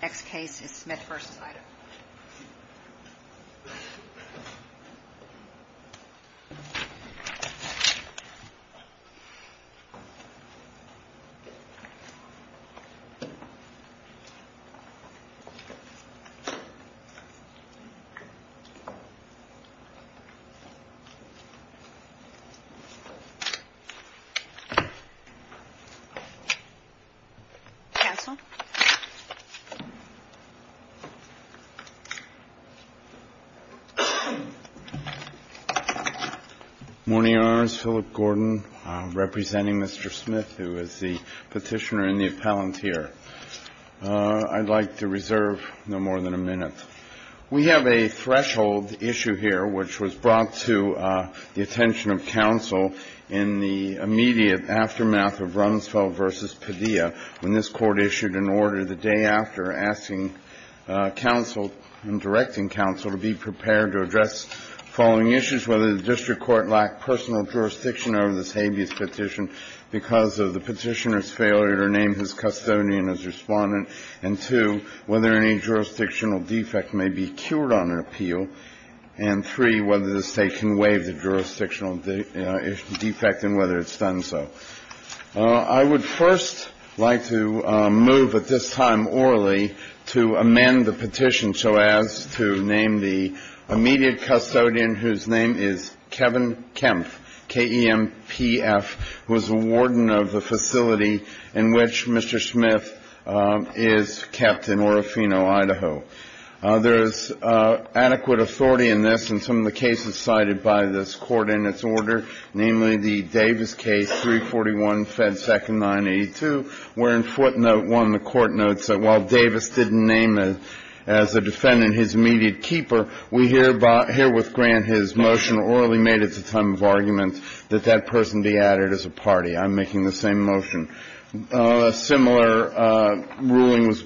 Next case is Smith v. Idaho. Good morning, Your Honors. Philip Gordon representing Mr. Smith, who is the petitioner and the appellant here. I'd like to reserve no more than a minute. We have a threshold issue here which was brought to the attention of counsel in the immediate aftermath of Rumsfeld v. Padilla when this Court issued an order the day after asking counsel and directing counsel to be prepared to address the following issues. Whether the district court lacked personal jurisdiction over this habeas petition because of the petitioner's failure to name his custodian as respondent. And two, whether any jurisdictional defect may be cured on an appeal. And three, whether the State can waive the jurisdictional defect and whether it's done so. I would first like to move at this time orally to amend the petition so as to name the immediate custodian whose name is Kevin Kempf, K-E-M-P-F, who is the warden of the facility in which Mr. Smith is kept in Orofino, Idaho. There is adequate authority in this and some of the cases cited by this Court in its order, namely the Davis case, 341 Fed Second 982, wherein footnote one, the Court notes that while Davis didn't name as a defendant his immediate keeper, we herewith grant his motion orally made at the time of argument that that person be added as a party. I'm making the same motion. A similar ruling was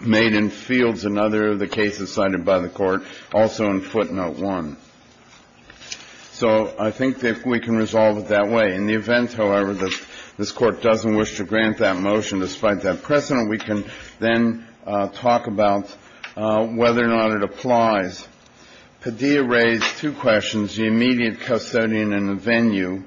made in Fields, another of the cases cited by the Court, also in footnote one. So I think that we can resolve it that way. In the event, however, that this Court doesn't wish to grant that motion despite that precedent, we can then talk about whether or not it applies. Padilla raised two questions, the immediate custodian and the venue.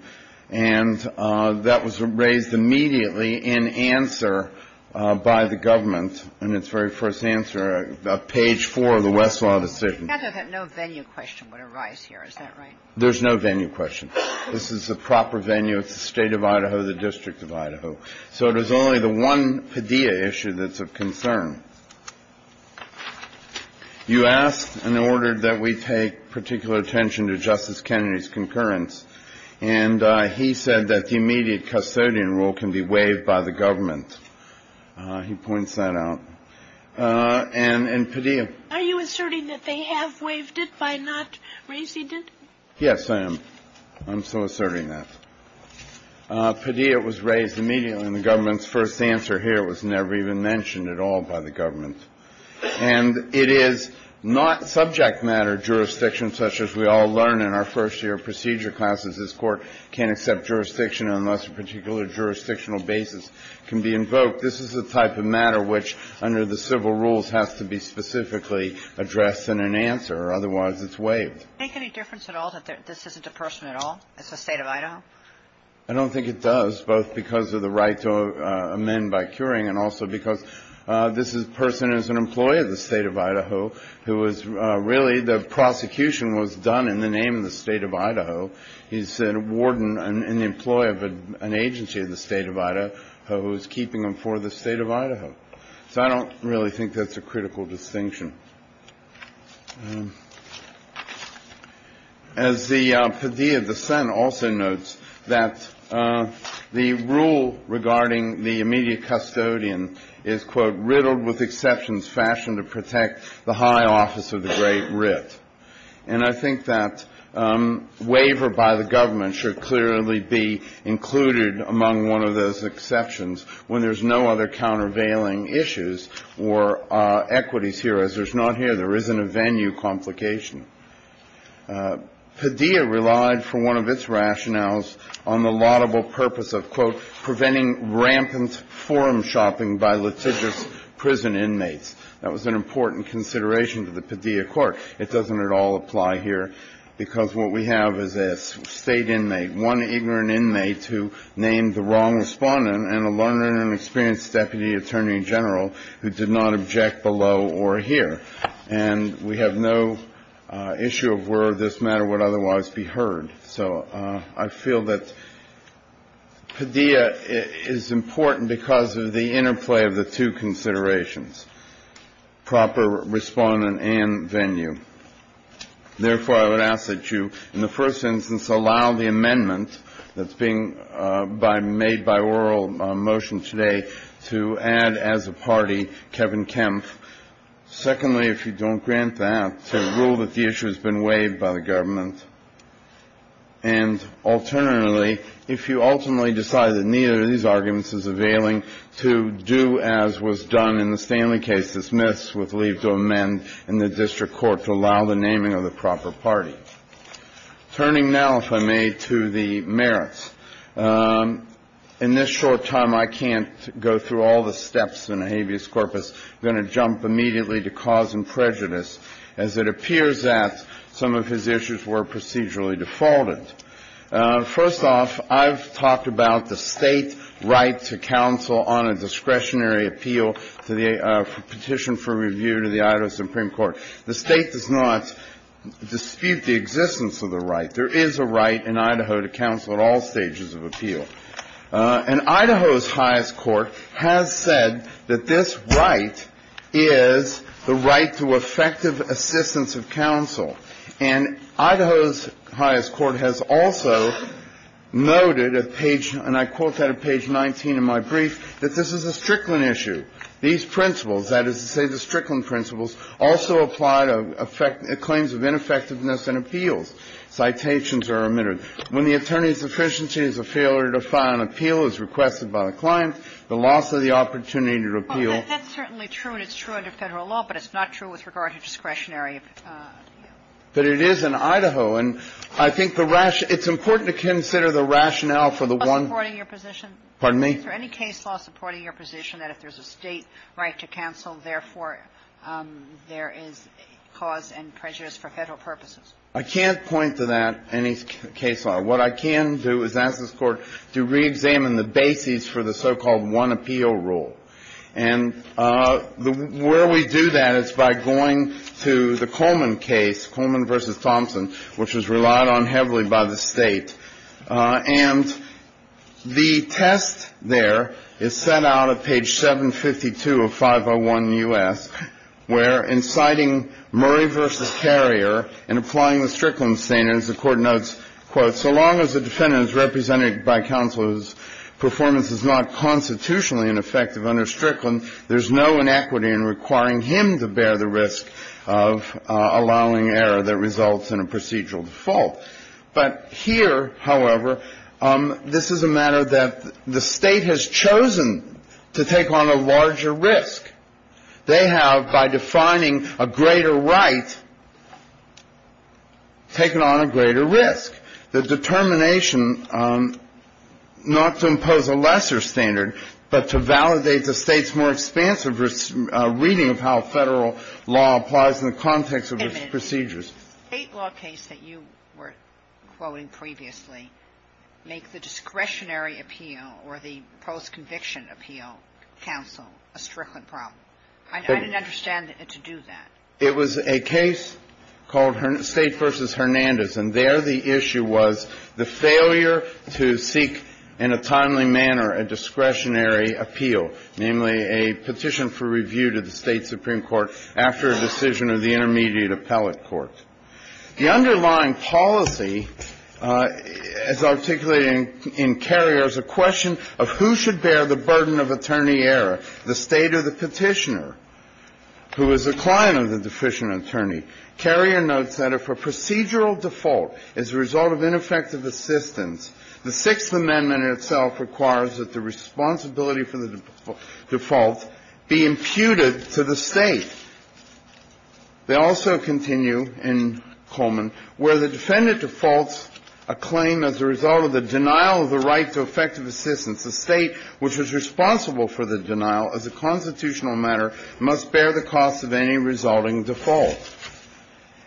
And that was raised immediately in answer by the government in its very first answer, page four of the Westlaw decision. Kagan, I thought that no venue question would arise here. Is that right? There's no venue question. This is the proper venue. It's the State of Idaho, the District of Idaho. So it is only the one Padilla issue that's of concern. You asked and ordered that we take particular attention to Justice Kennedy's concurrence. And he said that the immediate custodian rule can be waived by the government. He points that out. And Padilla. Are you asserting that they have waived it by not raising it? Yes, I am. I'm so asserting that. Padilla was raised immediately in the government's first answer here. It was never even mentioned at all by the government. And it is not subject matter jurisdiction, such as we all learn in our first-year procedure classes. This Court can't accept jurisdiction unless a particular jurisdictional basis can be invoked. This is the type of matter which, under the civil rules, has to be specifically addressed in an answer. Otherwise, it's waived. Make any difference at all that this isn't a person at all? It's the State of Idaho? I don't think it does, both because of the right to amend by curing and also because this person is an employee of the State of Idaho, who was really the prosecution was done in the name of the State of Idaho. He's a warden and an employee of an agency in the State of Idaho who is keeping him for the State of Idaho. So I don't really think that's a critical distinction. As the Padilla dissent also notes, that the rule regarding the immediate custodian is, quote, riddled with exceptions fashioned to protect the high office of the great writ. And I think that waiver by the government should clearly be included among one of those exceptions when there's no other countervailing issues or equities here. As there's not here, there isn't a venue complication. Padilla relied, for one of its rationales, on the laudable purpose of, quote, preventing rampant forum shopping by litigious prison inmates. That was an important consideration to the Padilla court. It doesn't at all apply here, because what we have is a State inmate, one ignorant inmate who named the wrong respondent, and a learned and experienced Deputy Attorney General who did not object below or here. And we have no issue of where this matter would otherwise be heard. So I feel that Padilla is important because of the interplay of the two considerations, proper respondent and venue. Therefore, I would ask that you, in the first instance, allow the amendment that's being made by oral motion today to add as a party Kevin Kempf. Secondly, if you don't grant that, to rule that the issue has been waived by the government. And alternately, if you ultimately decide that neither of these arguments is availing, to do as was done in the Stanley case, dismiss, with leave to amend, and the district court to allow the naming of the proper party. Turning now, if I may, to the merits. In this short time, I can't go through all the steps in habeas corpus. I'm going to jump immediately to cause and prejudice, as it appears that some of his issues were procedurally defaulted. First off, I've talked about the State right to counsel on a discretionary appeal to the Petition for Review to the Idaho Supreme Court. The State does not dispute the existence of the right. There is a right in Idaho to counsel at all stages of appeal. And Idaho's highest court has said that this right is the right to effective assistance of counsel. And Idaho's highest court has also noted at page, and I quote that at page 19 of my brief, that this is a Strickland issue. These principles, that is to say the Strickland principles, also apply to claims of ineffectiveness in appeals. Citations are omitted. When the attorney's efficiency is a failure to file an appeal as requested by the client, the loss of the opportunity to appeal. And that's certainly true, and it's true under Federal law, but it's not true with regard to discretionary appeal. But it is in Idaho. And I think the rationale – it's important to consider the rationale for the one – Supporting your position? Pardon me? Is there any case law supporting your position that if there's a State right to counsel, therefore, there is cause and prejudice for Federal purposes? I can't point to that, any case law. What I can do is ask this Court to reexamine the basis for the so-called one appeal rule, and where we do that is by going to the Coleman case, Coleman v. Thompson, which was relied on heavily by the State. And the test there is set out at page 752 of 501 U.S., where inciting Murray v. Carrier and applying the Strickland standards, the Court notes, quote, represented by counsel whose performance is not constitutionally ineffective under Strickland, there's no inequity in requiring him to bear the risk of allowing error that results in a procedural default. But here, however, this is a matter that the State has chosen to take on a larger risk. They have, by defining a greater right, taken on a greater risk. The determination not to impose a lesser standard, but to validate the State's more expansive reading of how Federal law applies in the context of its procedures. Wait a minute. The State law case that you were quoting previously makes the discretionary appeal or the post-conviction appeal counsel a Strickland problem. I didn't understand to do that. It was a case called State v. Hernandez, and there the issue was the failure to seek in a timely manner a discretionary appeal, namely a petition for review to the State Supreme Court after a decision of the intermediate appellate court. The underlying policy, as articulated in Carrier, is a question of who should bear the burden of attorney error. The State or the petitioner who is a client of the deficient attorney. Carrier notes that if a procedural default is the result of ineffective assistance, the Sixth Amendment itself requires that the responsibility for the default be imputed to the State. They also continue in Coleman where the defendant defaults a claim as a result of the denial of the right to effective assistance. The State, which is responsible for the denial as a constitutional matter, must bear the cost of any resulting default.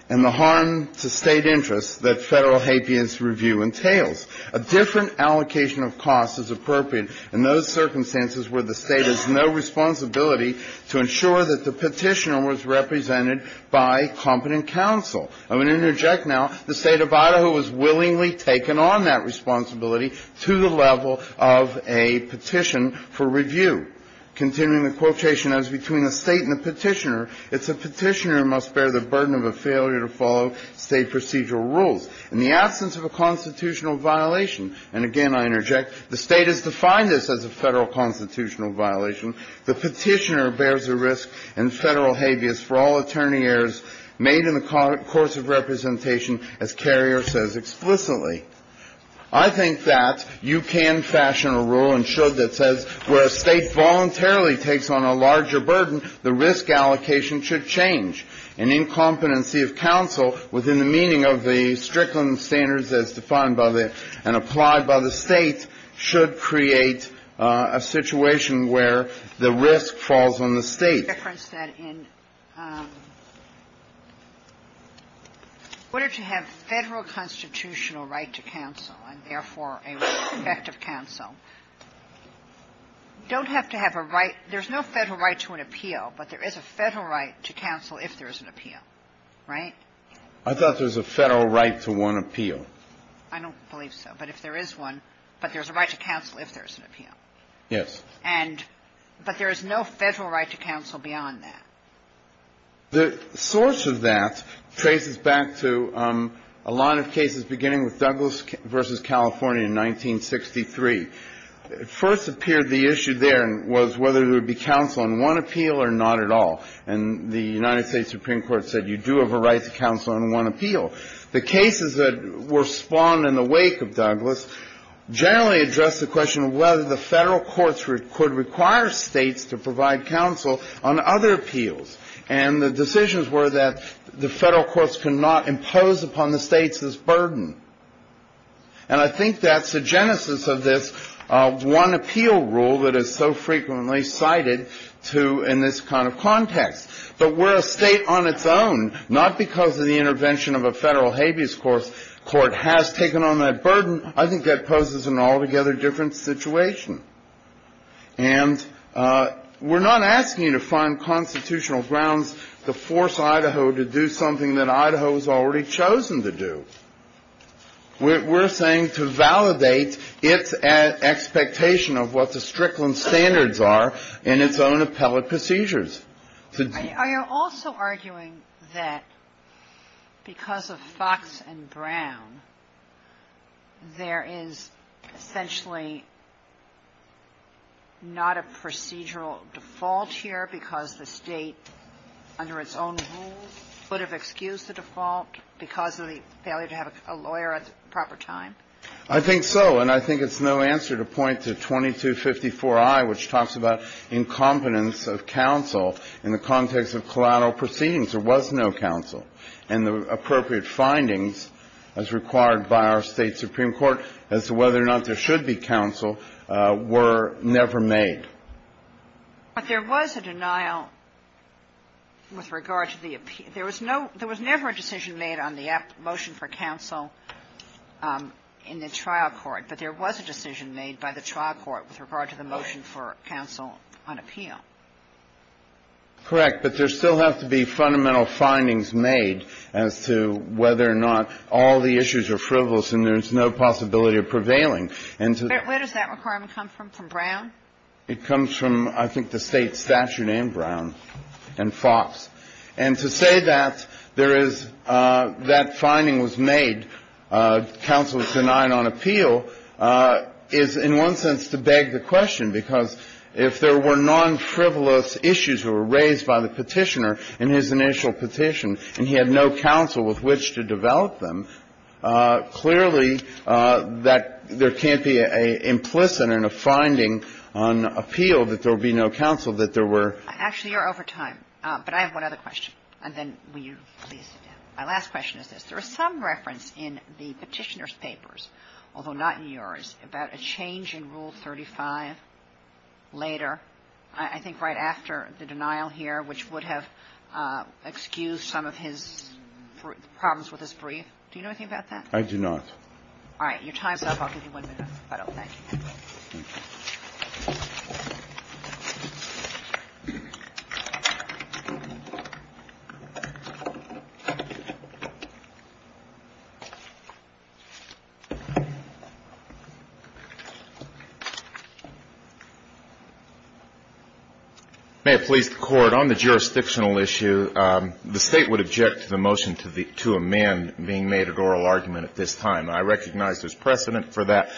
And the harm to State interests that Federal habeas review entails. A different allocation of costs is appropriate in those circumstances where the State has no responsibility to ensure that the petitioner was represented by competent counsel. I'm going to interject now. The State of Idaho has willingly taken on that responsibility to the level of a petition for review. Continuing the quotation, as between the State and the petitioner, it's a petitioner who must bear the burden of a failure to follow State procedural rules. In the absence of a constitutional violation, and again I interject, the State has defined this as a Federal constitutional violation, the petitioner bears the risk and Federal habeas for all attorney errors made in the course of representation, as Carrier says explicitly. I think that you can fashion a rule and should that says where a State voluntarily takes on a larger burden, the risk allocation should change. An incompetency of counsel within the meaning of the Strickland standards as defined by the and applied by the State should create a situation where the risk falls on the State. Sotomayor, I think the difference that in order to have Federal constitutional right to counsel and therefore a right to effective counsel, you don't have to have a right. There's no Federal right to an appeal, but there is a Federal right to counsel if there's an appeal, right? I thought there's a Federal right to one appeal. I don't believe so. But if there is one, but there's a right to counsel if there's an appeal. Yes. And but there is no Federal right to counsel beyond that. The source of that traces back to a line of cases beginning with Douglas v. California in 1963. It first appeared the issue there was whether there would be counsel on one appeal or not at all. And the United States Supreme Court said you do have a right to counsel on one appeal. The cases that were spawned in the wake of Douglas generally addressed the question of whether the Federal courts could require States to provide counsel on other appeals. And the decisions were that the Federal courts cannot impose upon the States this burden. And I think that's the genesis of this one appeal rule that is so frequently cited to in this kind of context. But where a State on its own, not because of the intervention of a Federal habeas corpus court, has taken on that burden, I think that poses an altogether different situation. And we're not asking you to find constitutional grounds to force Idaho to do something that Idaho has already chosen to do. We're saying to validate its expectation of what the Strickland standards are in its own appellate procedures. Sotomayor, are you also arguing that because of Fox and Brown, there is essentially not a procedural default here because the State, under its own rules, would have excused the default because of the failure to have a lawyer at the proper time? I think so. And I think it's no answer to point to 2254i, which talks about incompetence of counsel in the context of collateral proceedings. There was no counsel. And the appropriate findings as required by our State supreme court as to whether or not there should be counsel were never made. But there was a denial with regard to the appeal. There was never a decision made on the motion for counsel in the trial court. But there was a decision made by the trial court with regard to the motion for counsel on appeal. Correct. But there still have to be fundamental findings made as to whether or not all the issues are frivolous and there's no possibility of prevailing. Where does that requirement come from, from Brown? It comes from, I think, the State statute and Brown and Fox. And to say that there is that finding was made, counsel is denied on appeal, is in one sense to beg the question. Because if there were non-frivolous issues that were raised by the Petitioner in his initial petition and he had no counsel with which to develop them, clearly that there can't be an implicit and a finding on appeal that there would be no counsel that there were. Actually, you're over time. But I have one other question. And then will you please sit down. My last question is this. There is some reference in the Petitioner's papers, although not in yours, about a change in Rule 35 later, I think right after the denial here, which would have excused some of his problems with his brief. Do you know anything about that? I do not. All right. Your time's up. I'll give you one minute. May it please the Court. On the jurisdictional issue, the State would object to the motion to amend being made at oral argument at this time. I recognize there's precedent for that.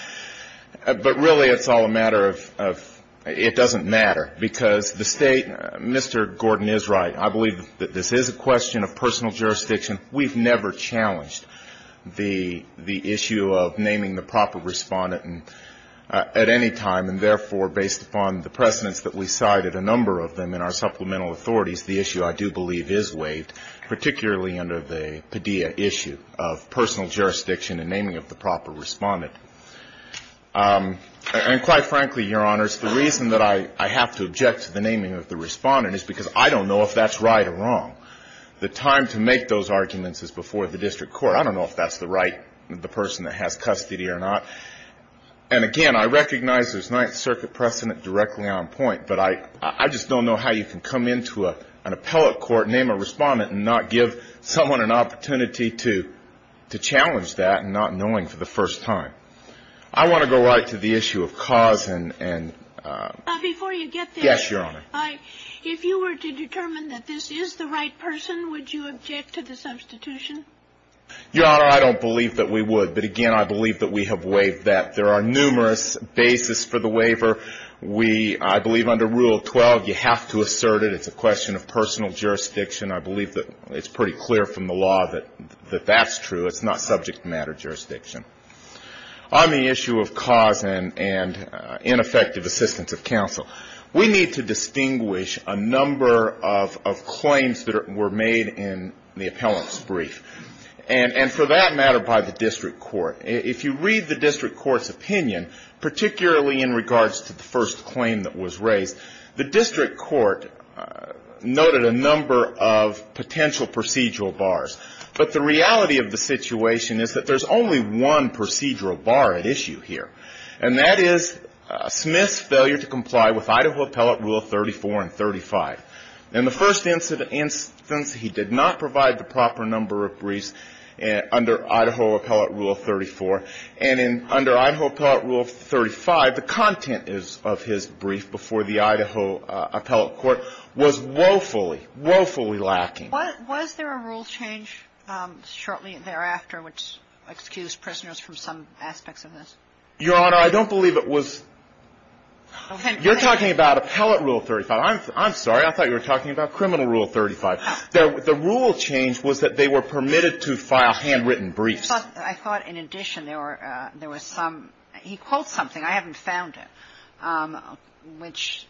But really it's all a matter of it doesn't matter. Because the State, Mr. Gordon is right. I believe that this is a question of personal jurisdiction. We've never challenged the issue of naming the proper Respondent at any time. And therefore, based upon the precedents that we cited, a number of them in our supplemental authorities, the issue I do believe is waived, particularly under the Padilla issue of personal jurisdiction and naming of the proper Respondent. And quite frankly, Your Honors, the reason that I have to object to the naming of the Respondent is because I don't know if that's right or wrong. The time to make those arguments is before the district court. I don't know if that's the right, the person that has custody or not. And again, I recognize there's Ninth Circuit precedent directly on point, but I just don't know how you can come into an appellate court, name a Respondent, and not give someone an opportunity to challenge that and not knowing for the first time. I want to go right to the issue of cause and ‑‑ Before you get there. Yes, Your Honor. If you were to determine that this is the right person, would you object to the substitution? Your Honor, I don't believe that we would. But again, I believe that we have waived that. There are numerous basis for the waiver. We, I believe under Rule 12, you have to assert it. It's a question of personal jurisdiction. I believe that it's pretty clear from the law that that's true. It's not subject matter jurisdiction. On the issue of cause and ineffective assistance of counsel, we need to distinguish a number of claims that were made in the appellant's brief. And for that matter, by the district court. If you read the district court's opinion, particularly in regards to the first claim that was raised, the district court noted a number of potential procedural bars. But the reality of the situation is that there's only one procedural bar at issue here. And that is Smith's failure to comply with Idaho Appellate Rule 34 and 35. In the first instance, he did not provide the proper number of briefs under Idaho Appellate Rule 34. And under Idaho Appellate Rule 35, the content of his brief before the Idaho Appellate Court was woefully, woefully lacking. Was there a rule change shortly thereafter which excused prisoners from some aspects of this? Your Honor, I don't believe it was. You're talking about Appellate Rule 35. I'm sorry. I thought you were talking about Criminal Rule 35. The rule change was that they were permitted to file handwritten briefs. I thought, in addition, there were some – he quotes something. I haven't found it. Which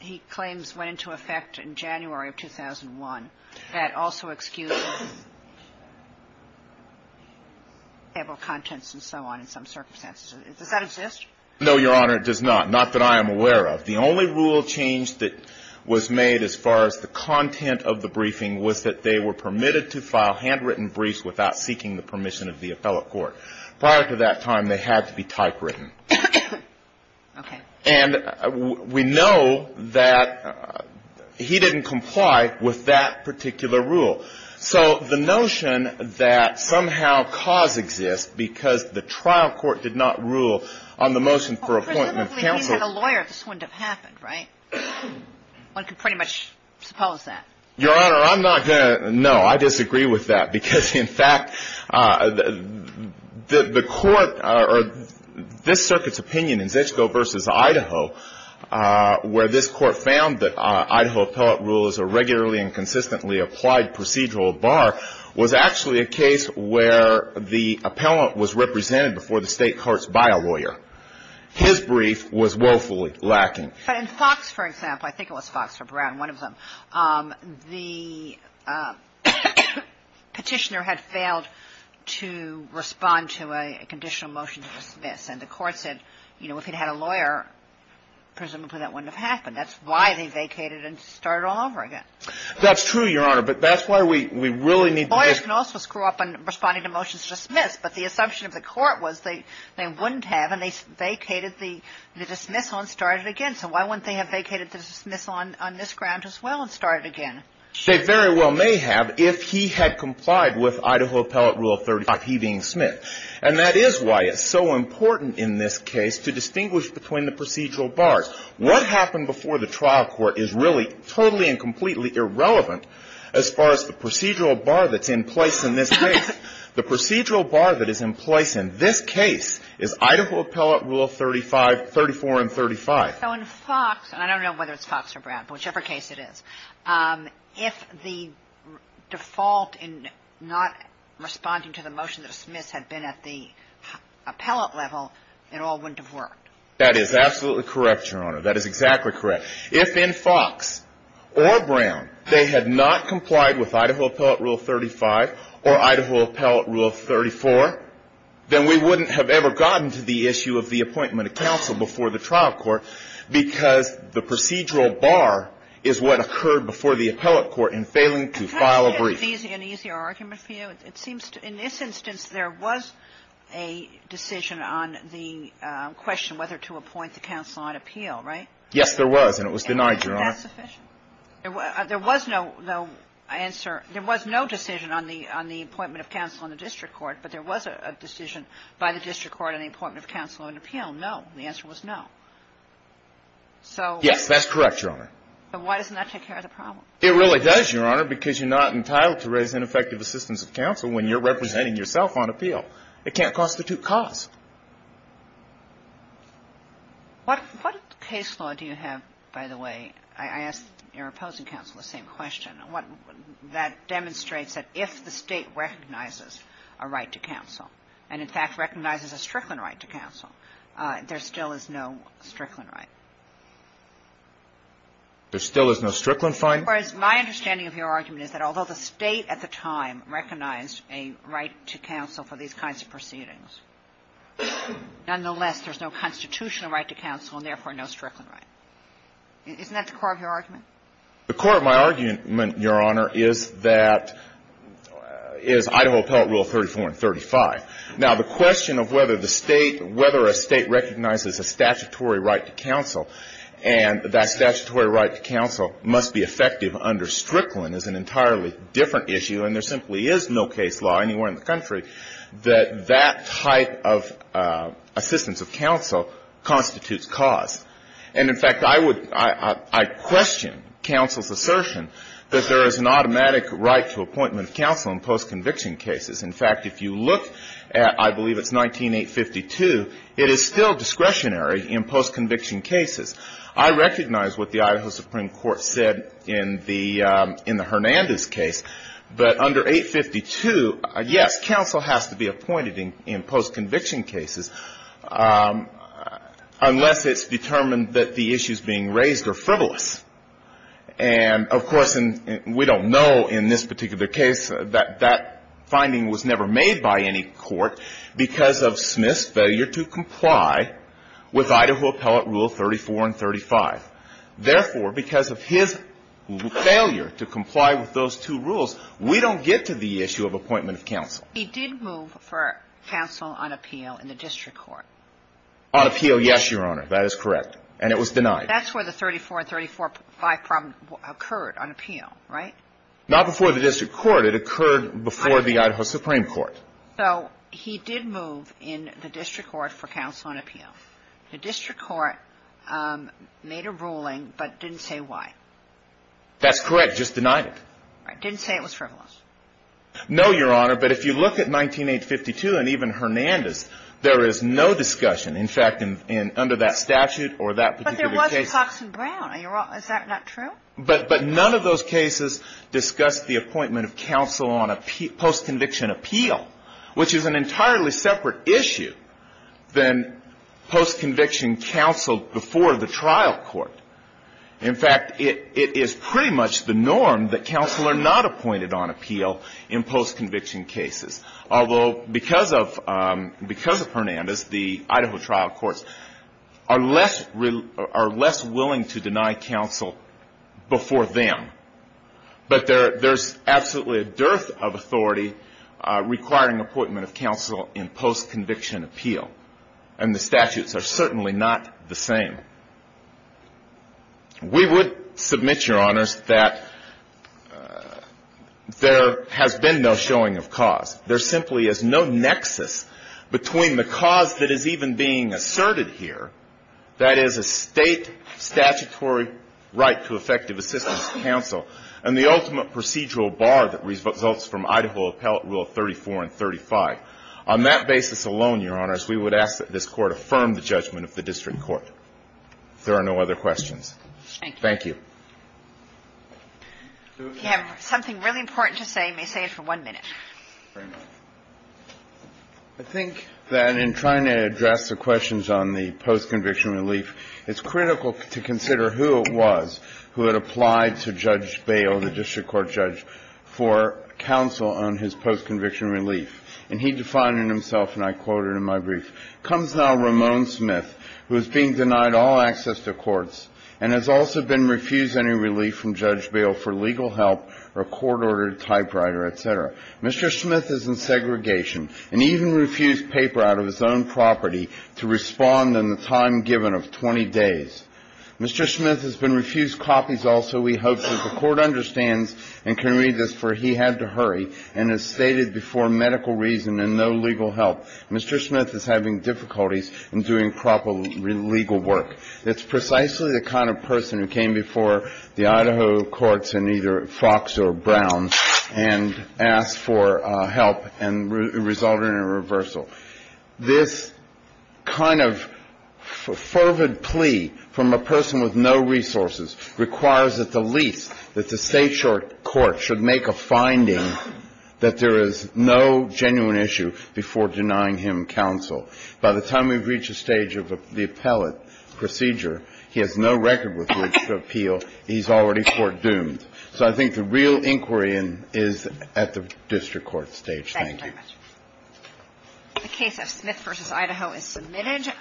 he claims went into effect in January of 2001. That also excused the contents and so on in some circumstances. Does that exist? No, Your Honor. It does not. Not that I am aware of. The only rule change that was made as far as the content of the briefing was that they were permitted to file handwritten briefs without seeking the permission of the appellate court. Prior to that time, they had to be typewritten. Okay. And we know that he didn't comply with that particular rule. So the notion that somehow cause exists because the trial court did not rule on the motion for appointment of counsel – Well, presumably, if he had a lawyer, this wouldn't have happened, right? One could pretty much suppose that. Your Honor, I'm not going to – no, I disagree with that. Because, in fact, the court – or this Circuit's opinion in Zetsko v. Idaho, where this Court found that Idaho appellate rule is a regularly and consistently applied procedural bar, was actually a case where the appellant was represented before the State courts by a lawyer. His brief was woefully lacking. But in Fox, for example – I think it was Fox or Brown, one of them – the petitioner had failed to respond to a conditional motion to dismiss. And the court said, you know, if he'd had a lawyer, presumably that wouldn't have happened. That's why they vacated and started all over again. That's true, Your Honor. But that's why we really need to – Lawyers can also screw up in responding to motions to dismiss. But the assumption of the court was they wouldn't have, and they vacated the dismissal and started again. So why wouldn't they have vacated the dismissal on this ground as well and started again? They very well may have if he had complied with Idaho appellate rule 35, he being Smith. And that is why it's so important in this case to distinguish between the procedural bars. What happened before the trial court is really totally and completely irrelevant as far as the procedural bar that's in place in this case. The procedural bar that is in place in this case is Idaho appellate rule 35, 34, and 35. So in Fox, and I don't know whether it's Fox or Brown, whichever case it is, if the default in not responding to the motion to dismiss had been at the appellate level, it all wouldn't have worked. That is absolutely correct, Your Honor. That is exactly correct. If in Fox or Brown they had not complied with Idaho appellate rule 35 or Idaho appellate rule 34, then we wouldn't have ever gotten to the issue of the appointment of counsel before the trial court, because the procedural bar is what occurred before the appellate court in failing to file a brief. Can I make an easier argument for you? It seems to me in this instance there was a decision on the question whether to appoint the counsel on appeal, right? Yes, there was. And it was denied, Your Honor. And that's sufficient? There was no answer. There was no decision on the appointment of counsel on the district court, but there was a decision by the district court on the appointment of counsel on appeal. No. The answer was no. Yes, that's correct, Your Honor. But why doesn't that take care of the problem? It really does, Your Honor, because you're not entitled to raise ineffective assistance of counsel when you're representing yourself on appeal. It can't constitute cause. What case law do you have, by the way? I asked your opposing counsel the same question. That demonstrates that if the State recognizes a right to counsel and, in fact, recognizes a Strickland right to counsel, there still is no Strickland right. There still is no Strickland fine? Whereas my understanding of your argument is that although the State at the time recognized a right to counsel for these kinds of proceedings, nonetheless, there's no constitutional right to counsel and, therefore, no Strickland right. Isn't that the core of your argument? The core of my argument, Your Honor, is that – is Idaho Appellate Rule 34 and 35. Now, the question of whether the State – whether a State recognizes a statutory right to counsel and that statutory right to counsel must be effective under Strickland is an entirely different issue, and there simply is no case law anywhere in the country that that type of assistance of counsel constitutes cause. And, in fact, I would – I question counsel's assertion that there is an automatic right to appointment of counsel in post-conviction cases. In fact, if you look at – I believe it's 19852, it is still discretionary in post-conviction cases. I recognize what the Idaho Supreme Court said in the – in the Hernandez case, but under 852, yes, counsel has to be appointed in post-conviction cases unless it's determined that the issues being raised are frivolous. And, of course, we don't know in this particular case that that finding was never made by any court because of Smith's failure to comply with Idaho Appellate Rule 34 and 35. Therefore, because of his failure to comply with those two rules, we don't get to the issue of appointment of counsel. He did move for counsel on appeal in the district court. On appeal, yes, Your Honor. That is correct. And it was denied. That's where the 34 and 35 problem occurred on appeal, right? Not before the district court. It occurred before the Idaho Supreme Court. So he did move in the district court for counsel on appeal. The district court made a ruling but didn't say why. That's correct. Just denied it. Didn't say it was frivolous. No, Your Honor. But if you look at 19852 and even Hernandez, there is no discussion. In fact, under that statute or that particular case. But there was a Fox and Brown. Is that not true? But none of those cases discussed the appointment of counsel on post-conviction appeal, which is an entirely separate issue than post-conviction counsel before the trial court. In fact, it is pretty much the norm that counsel are not appointed on appeal in post-conviction cases. Although because of Hernandez, the Idaho trial courts are less willing to deny counsel before them. But there is absolutely a dearth of authority requiring appointment of counsel in post-conviction appeal. And the statutes are certainly not the same. We would submit, Your Honors, that there has been no showing of cause. There simply is no nexus between the cause that is even being asserted here, that is a state statutory right to effective assistance to counsel, and the ultimate procedural bar that results from Idaho Appellate Rule 34 and 35. On that basis alone, Your Honors, we would ask that this Court affirm the judgment of the district court. If there are no other questions. Thank you. We have something really important to say. I may say it for one minute. Very much. I think that in trying to address the questions on the post-conviction relief, it's critical to consider who it was who had applied to Judge Bail, the district court judge, for counsel on his post-conviction relief. And he defined it himself, and I quote it in my brief. Comes now Ramon Smith, who is being denied all access to courts and has also been Mr. Smith is in segregation and even refused paper out of his own property to respond in the time given of 20 days. Mr. Smith has been refused copies also. We hope that the Court understands and can read this, for he had to hurry and has stated before medical reason and no legal help, Mr. Smith is having difficulties in doing proper legal work. That's precisely the kind of person who came before the Idaho courts in either Fox or Brown and asked for help and resulted in a reversal. This kind of fervid plea from a person with no resources requires at the least that the Stateshore Court should make a finding that there is no genuine issue before denying him counsel. By the time we reach a stage of the appellate procedure, he has no record with which to appeal. He's already court doomed. So I think the real inquiry is at the district court stage. Thank you. The case of Smith v. Idaho is submitted.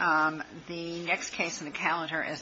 The next case in the calendar is Bachalad v. Brown. Thank you.